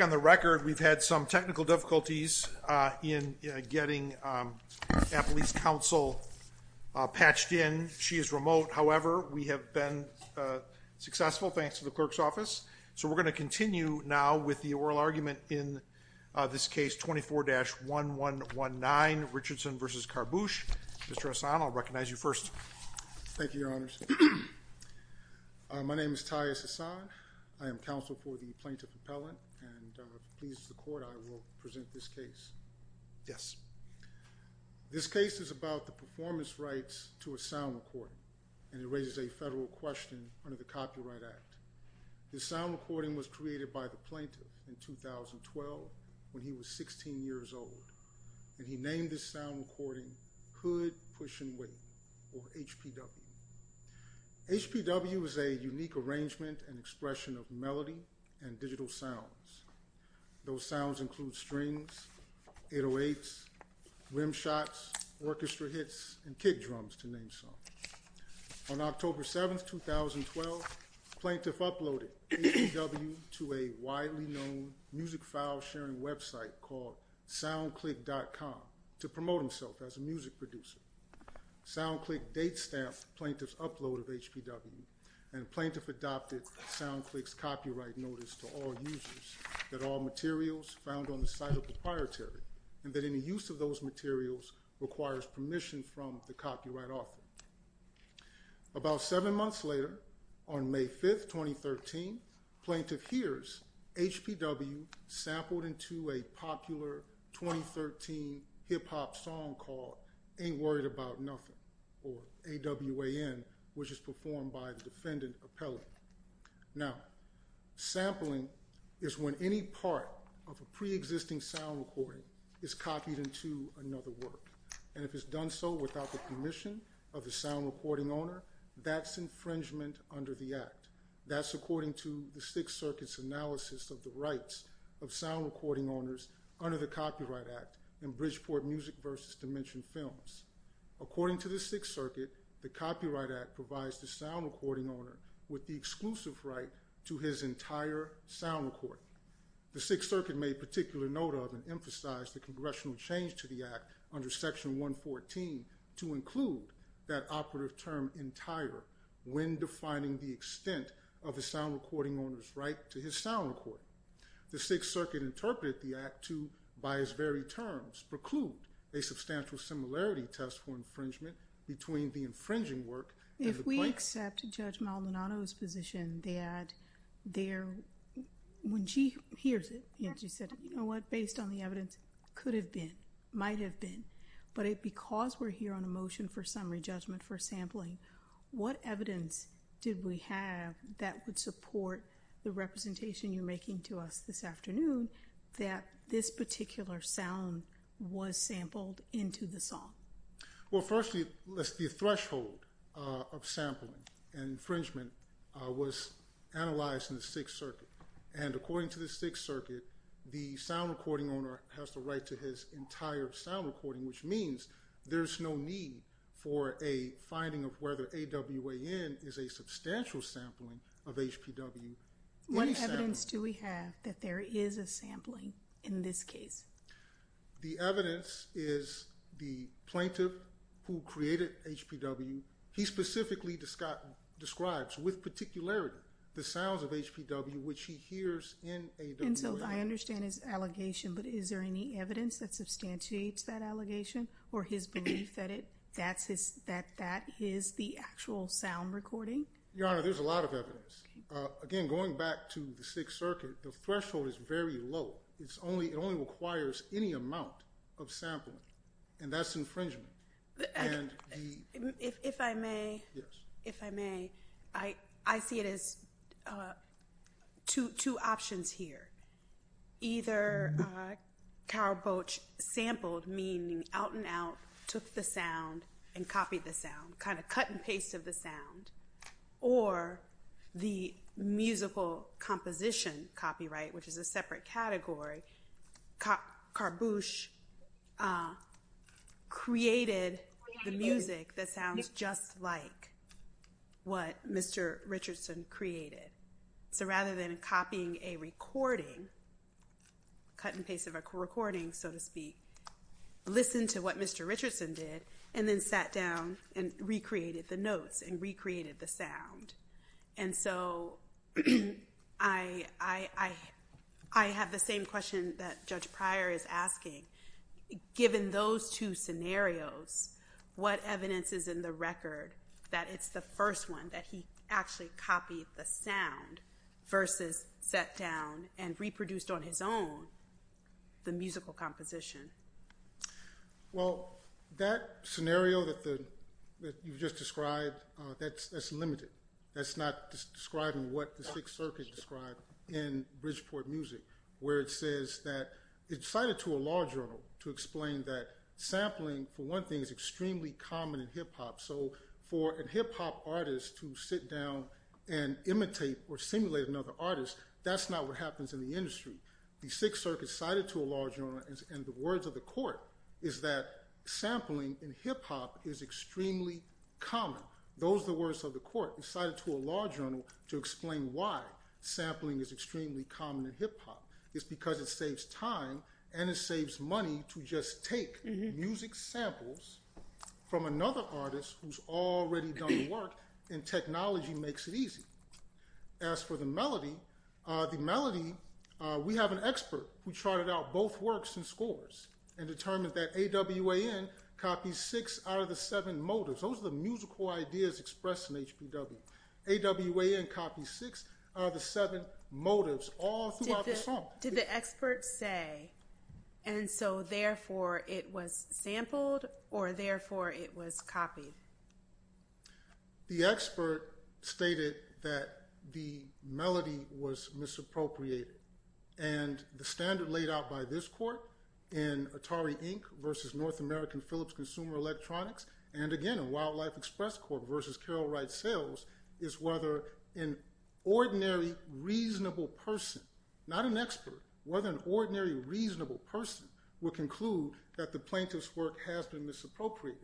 on the record we've had some technical difficulties in getting a police counsel patched in she is remote however we have been successful thanks to the clerk's office so we're going to continue now with the oral argument in this case 24-1 1 1 9 Richardson versus Kharbouch distress on I'll recognize you first thank you your honors my name is Tyus on I am counsel for the plaintiff appellant and please the court I will present this case yes this case is about the performance rights to a sound recording and it raises a federal question under the Copyright Act this sound recording was created by the plaintiff in 2012 when he was 16 years old and he named this sound recording hood pushing weight or HPW HPW is a unique arrangement and expression of melody and digital sounds those sounds include strings it awaits rim shots orchestra hits and kick drums to name some on October 7th 2012 plaintiff uploaded to a widely known music file sharing website called soundclick.com to promote himself as a music producer soundclick date stamp plaintiff's upload of HPW and plaintiff adopted sound clicks copyright notice to all users that all materials found on the site of the proprietary and that any use of those materials requires permission from the copyright author about seven months later on May 5th 2013 plaintiff hears HPW sampled into a popular 2013 hip-hop song called ain't worried about nothing or AWAN which is performed by the defendant appellate now sampling is when any part of a pre-existing sound recording is copied into another work and if it's done so without the permission of the sound recording owner that's infringement under the act that's according to the Sixth Circuit's analysis of the rights of sound recording owners under the Copyright Act and Bridgeport music versus dimension films according to the Sixth Circuit the Copyright Act provides the sound recording owner with the exclusive right to his entire sound recording the Sixth Circuit made particular note of and emphasized the congressional change to the act under section 114 to include that operative term entire when defining the extent of the sound recording owners right to his sound recording the Sixth Circuit interpreted the act to by his terms preclude a substantial similarity test for infringement between the infringing work if we accept judge Maldonado's position that there when she hears it and she said you know what based on the evidence could have been might have been but it because we're here on a motion for summary judgment for sampling what evidence did we have that would support the representation you're making to us this afternoon that this particular sound was sampled into the song well firstly let's be a threshold of sampling and infringement was analyzed in the Sixth Circuit and according to the Sixth Circuit the sound recording owner has the right to his entire sound recording which means there's no need for a finding of whether AWAN is a substantial sampling of HPW what evidence do we have that there is a sampling in this case the evidence is the plaintiff who created HPW he specifically described describes with particularity the sounds of HPW which he hears in a I understand his allegation but is there any evidence that substantiates that allegation or his belief that it that's his that that is the actual sound recording your honor again going back to the Sixth Circuit the threshold is very low it's only it only requires any amount of sampling and that's infringement if I may yes if I may I I see it as two two options here either cowboats sampled meaning out and out took the sound and copied the sound kind of cut and paste of the sound or the musical composition copyright which is a separate category carboosh created the music that sounds just like what mr. Richardson created so rather than copying a recording cut and paste of a recording so to speak listen to what mr. Richardson did and then sat down and recreated the notes and created the sound and so I I I have the same question that Judge Pryor is asking given those two scenarios what evidence is in the record that it's the first one that he actually copied the sound versus sat down and reproduced on his own the musical composition well that scenario that the you've just described that's limited that's not describing what the Sixth Circuit described in Bridgeport music where it says that it's cited to a law journal to explain that sampling for one thing is extremely common in hip-hop so for a hip-hop artist to sit down and imitate or simulate another artist that's not what happens in the industry the Sixth Circuit cited to a law journal and the words of the court is that sampling in hip-hop is extremely common those the words of the court is cited to a law journal to explain why sampling is extremely common in hip-hop it's because it saves time and it saves money to just take music samples from another artist who's already done work and technology makes it easy as for the the melody we have an expert who charted out both works and scores and determined that AWAN copies six out of the seven motives those are the musical ideas expressed in HPW. AWAN copies six out of the seven motives. Did the expert say and so therefore it was sampled or therefore it was copied? The expert stated that the melody was misappropriated and the standard laid out by this court in Atari Inc. versus North American Phillips Consumer Electronics and again in Wildlife Express Court versus Carroll Wright Sales is whether an ordinary reasonable person not an expert whether an ordinary reasonable person will conclude that the plaintiff's work has been misappropriated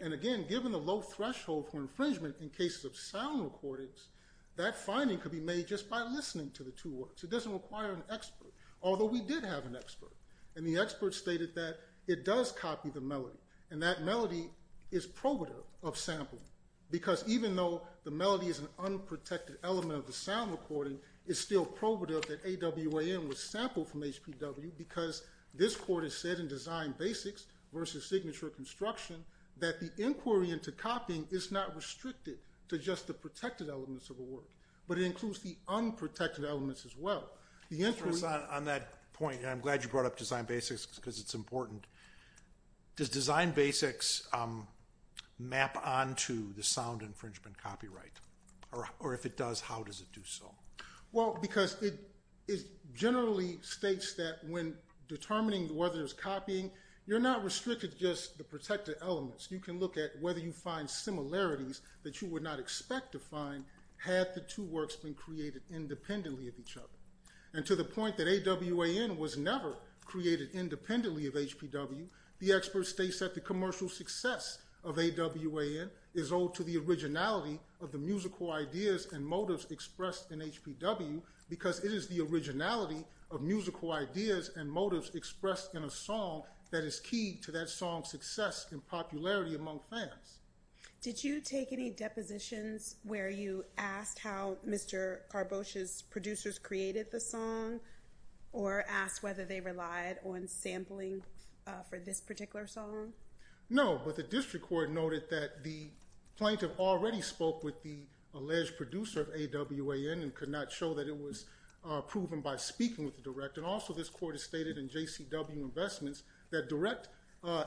and again given the low threshold for infringement in cases of sound recordings that finding could be made just by listening to the two works it doesn't require an expert although we did have an expert and the expert stated that it does copy the melody and that melody is probative of sampling because even though the melody is an unprotected element of the sound recording is still probative that AWAN was sampled from HPW because this court has said in design basics versus signature construction that the inquiry into copying is not restricted to just the protected elements of the work but it includes the unprotected elements as well. On that point I'm glad you brought up design basics because it's important. Does design basics map on to the sound infringement copyright or if it does how does it do so? Well because it is generally states that when determining whether there's copying you're not restricted just the protected elements you can look at whether you find similarities that you would not expect to find had the two works been created independently of each other and to the point that AWAN was never created independently of HPW the expert states that the commercial success of AWAN is owed to the originality of the musical ideas and motives expressed in HPW because it is the originality of musical ideas and motives expressed in a song that is key to that song's success and popularity among fans. Did you take any depositions where you asked how Mr. Carbosha's producers created the song or asked whether they relied on sampling for this particular song? No but the district court noted that the plaintiff already spoke with the alleged producer of AWAN and could not show that it was proven by speaking with the director. Also this court has stated in JCW investments that direct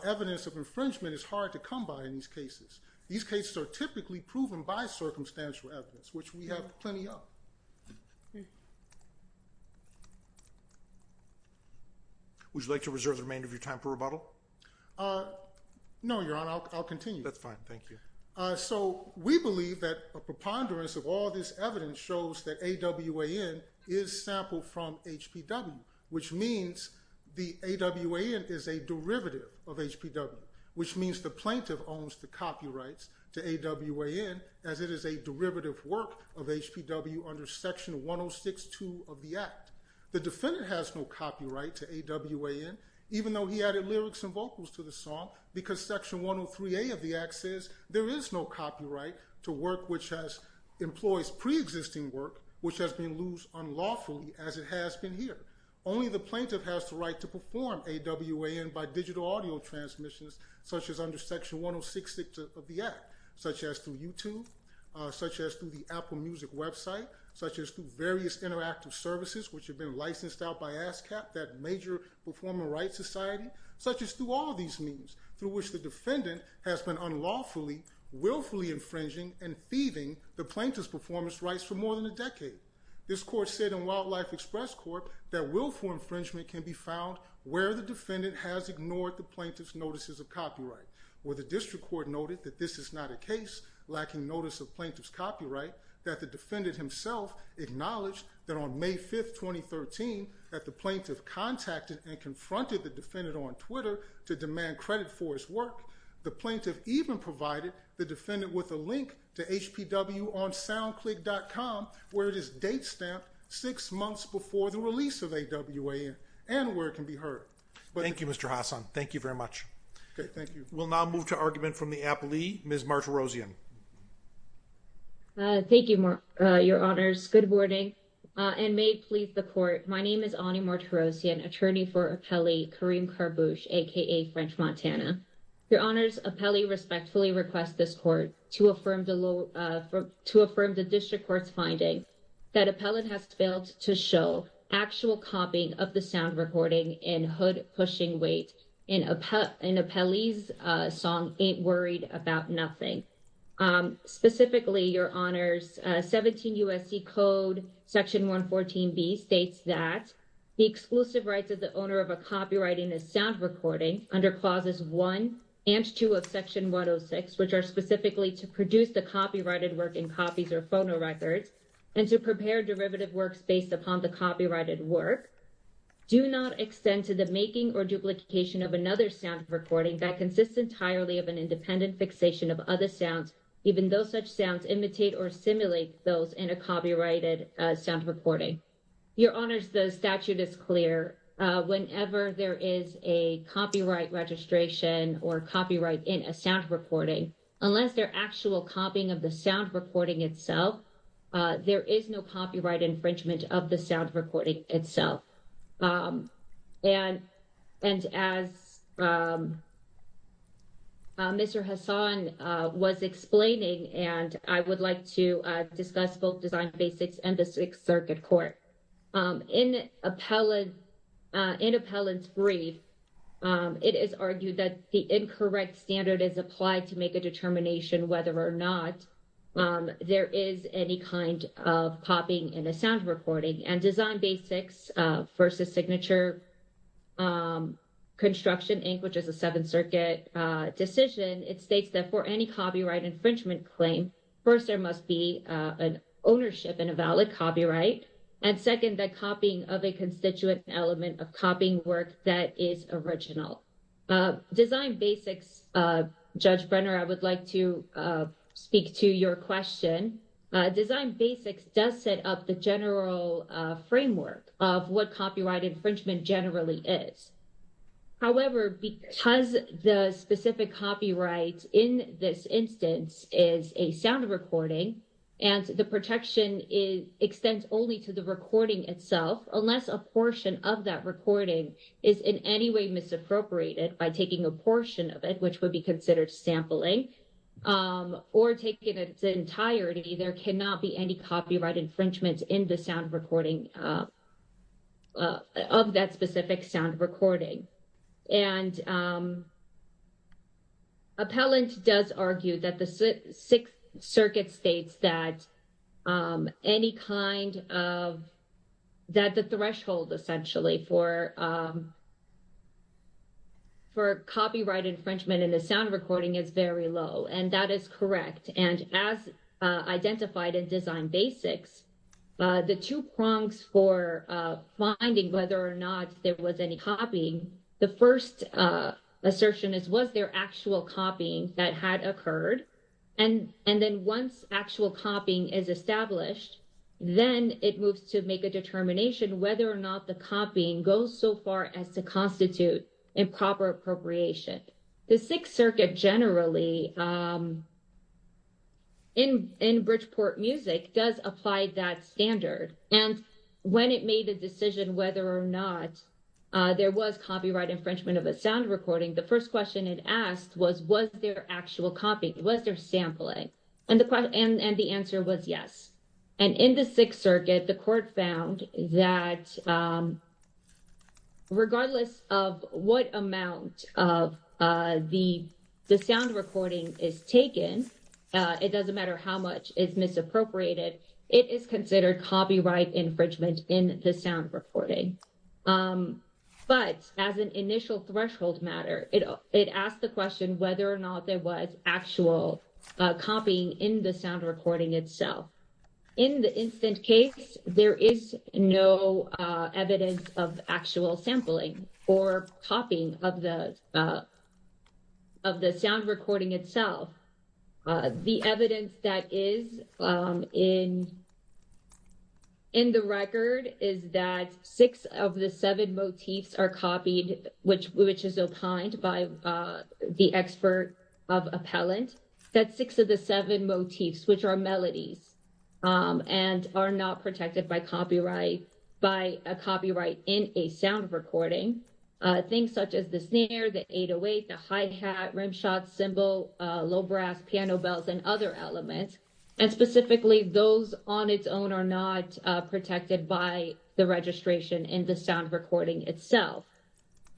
evidence of infringement is hard to come by in these cases. These cases are typically proven by circumstantial evidence which we have plenty of. Would you like to reserve the remainder of your time for rebuttal? No your honor I'll continue. That's fine thank you. So we believe that a preponderance of all this evidence shows that AWAN is sampled from HPW which means the AWAN is a derivative of HPW which means the plaintiff owns the copyrights to AWAN as it is a derivative work of HPW under section 1062 of the Act. The defendant has no copyright to AWAN even though he added lyrics and vocals to the song because section 103A of the Act says there is no copyright to work which has employs pre-existing work which has been loosed unlawfully as it has been here. Only the plaintiff has the right to perform AWAN by digital audio transmissions such as under section 1066 of the Act such as through YouTube, such as through the Apple Music website, such as through various interactive services which have been licensed out by ASCAP, that major performing rights society, such as through all of these means through which the defendant has been unlawfully willfully infringing and thieving the plaintiff's performance rights for more than a decade. This court said in Wildlife Express Court that willful infringement can be found where the defendant has ignored the plaintiff's notices of copyright where the district court noted that this is not a case lacking notice of plaintiff's copyright that the defendant himself acknowledged that on May 5th 2013 that the plaintiff contacted and confronted the defendant on Twitter to demand credit for his work. The plaintiff even provided the defendant with a link to HPW on SoundClick.com where it is date-stamped six months before the release of AWAN and where it can be heard. Thank you Mr. Hassan, thank you very much. We'll now move to argument from the appellee, Ms. Martirosian. Thank you, your honors. Good morning and may it please the court, my name is Ani Martirosian, attorney for Appelli Kareem Karboosh aka French Montana. Your honors, Appelli respectfully requests this court to affirm the district court's finding that appellant has failed to show actual copying of the sound recording in Hood Pushing Weight in Appelli's song Ain't Worried About Nothing. Specifically, your honors, 17 U.S.C. Code section 114B states that the exclusive rights of the owner of a copyrighted sound recording under clauses 1 and 2 of section 106 which are specifically to produce the copyrighted work in copies or phonorecords and to prepare derivative works based upon the copyrighted work do not extend to the making or duplication of another sound recording that consists entirely of an independent fixation of other sounds even though such sounds imitate or simulate those in a copyrighted sound recording. Your honors, the statute is clear. Whenever there is a copyright registration or copyright in a sound recording, unless they're actual copying of the sound recording itself, there is no copyright infringement of the sound recording itself. And as Mr. Hassan was explaining and I would like to discuss both Design Basics and the Sixth Circuit Court, in Appellant's brief, it is argued that the incorrect standard is applied to make a determination whether or not there is any kind of copying in a sound recording. And Design Basics v. Signature Construction Inc., which is a Seventh Circuit decision, it states that for any copyright infringement claim, first there must be an ownership and a valid copyright, and second, the copying of a constituent element of copying work that is original. Design Basics, Judge Brenner, I would like to speak to your question. Design Basics does set up the general framework of what copyright infringement generally is. However, because the specific copyright in this instance is a sound recording, and the protection extends only to the recording itself, unless a portion of that recording is in any way misappropriated by taking a portion of it, which would be considered sampling, or taking its entirety, there cannot be any copyright infringement in the sound recording, of that specific sound recording. And Appellant does argue that the Sixth Circuit states that any kind of, that the threshold essentially for copyright infringement in a sound recording is very low, and that is And as identified in Design Basics, the two prongs for finding whether or not there was any copying, the first assertion is, was there actual copying that had occurred? And then once actual copying is established, then it moves to make a determination whether or not the copying goes so far as to constitute improper appropriation. The Sixth Circuit generally, in Bridgeport Music, does apply that standard. And when it made a decision whether or not there was copyright infringement of a sound recording, the first question it asked was, was there actual copying? Was there sampling? And the answer was yes. And in the Sixth Circuit, the court found that regardless of what amount of the sound recording is taken, it doesn't matter how much is misappropriated, it is considered copyright infringement in the sound recording. But as an initial threshold matter, it asked the question In the instant case, there is no evidence of actual sampling or copying of the sound recording itself. The evidence that is in the record is that six of the seven motifs are copied, which is opined by the expert of appellant, that six of the seven motifs, which are melodies, and are not protected by a copyright in a sound recording. Things such as the snare, the 808, the hi-hat, rimshot, cymbal, low brass, piano bells, and other elements. And specifically, those on its own are not protected by the registration in the sound recording itself.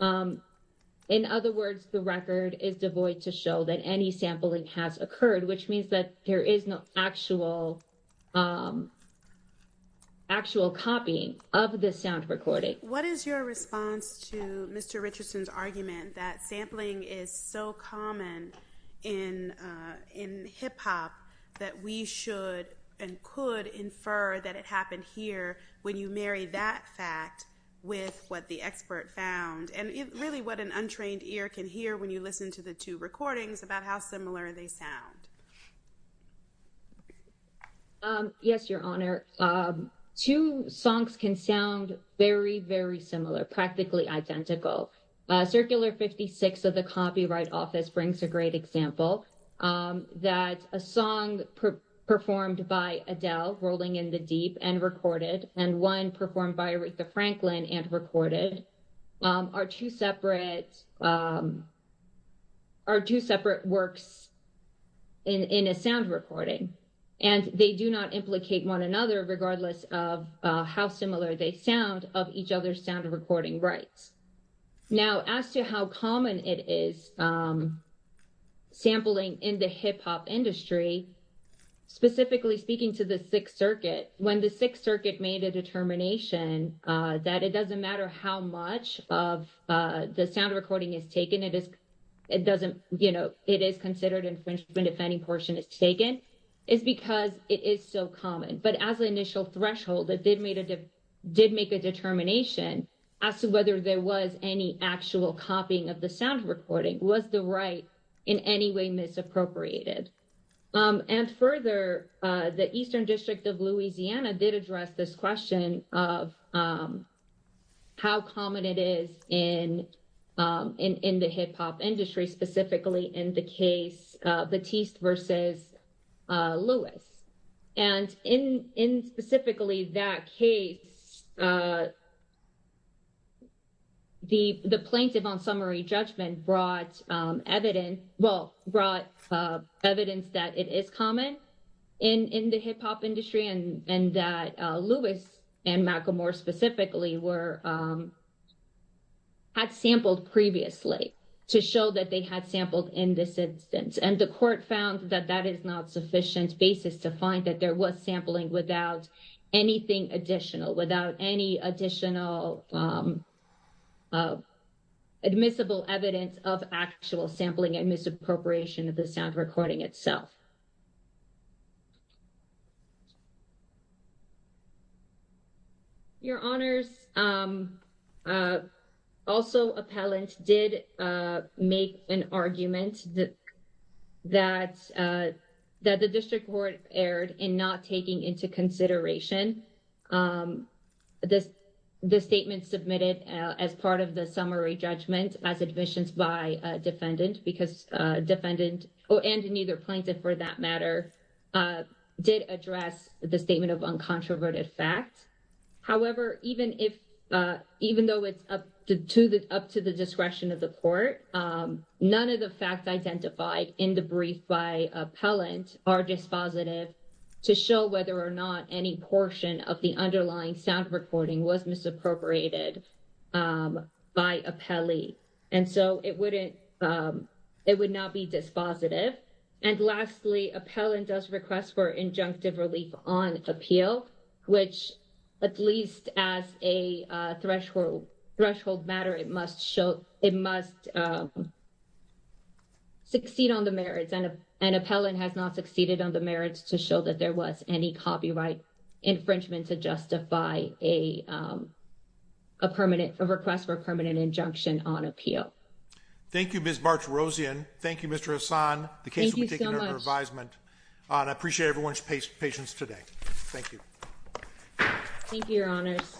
In other words, the record is devoid to show that any sampling has occurred, which means that there is no actual copying of the sound recording. What is your response to Mr. Richardson's argument that sampling is so common in hip-hop that we should and could infer that it happened here when you marry that fact with what the expert found, and really what an untrained ear can hear when you listen to the two recordings about how similar they sound? Yes, Your Honor. Two songs can sound very, very similar, practically identical. Circular 56 of the Copyright Office brings a great example that a song performed by Adele, Rolling in the Deep and Recorded, and one performed by Aretha Franklin and Recorded are two separate works in a sound recording. And they do not implicate one another, regardless of how similar they sound of each other's sound recording rights. Now, as to how common it is sampling in the hip-hop industry, specifically speaking to the Sixth Circuit, when the Sixth Circuit made a determination that it doesn't matter how much of the sound recording is taken, it is considered infringement if any portion is taken, it's because it is so common. But as an initial threshold, it did make a determination as to whether there was any actual copying of the sound recording. Was the right in any way misappropriated? And further, the Eastern District of Louisiana did address this question of how common it is in the hip-hop industry, specifically in the case of Batiste versus Lewis. And in specifically that case, the plaintiff on summary judgment brought evidence that it is common in the hip-hop industry and that Lewis and Macklemore specifically had sampled previously to show that they had sampled in this instance. And the court found that that is not sufficient basis to find that there was sampling without anything additional, without any additional admissible evidence of actual sampling and misappropriation of the that the district court erred in not taking into consideration the statement submitted as part of the summary judgment as admissions by a defendant because defendant or and neither plaintiff for that matter did address the statement of uncontroverted fact. However, even though it's up to the discretion of the court, none of the facts identified in the brief by appellant are dispositive to show whether or not any portion of the underlying sound recording was misappropriated by appellee. And so it wouldn't, it would not be dispositive. And lastly, appellant does request for injunctive relief on appeal, which at least as a threshold matter, it must show, it must succeed on the merits and an appellant has not succeeded on the merits to show that there was any copyright infringement to justify a permanent, a request for permanent injunction on appeal. Thank you, Ms. March-Rosian. Thank you, Mr. Hassan. The case will be taken under revisement. And I appreciate everyone's patience today. Thank you. Thank you, your honors.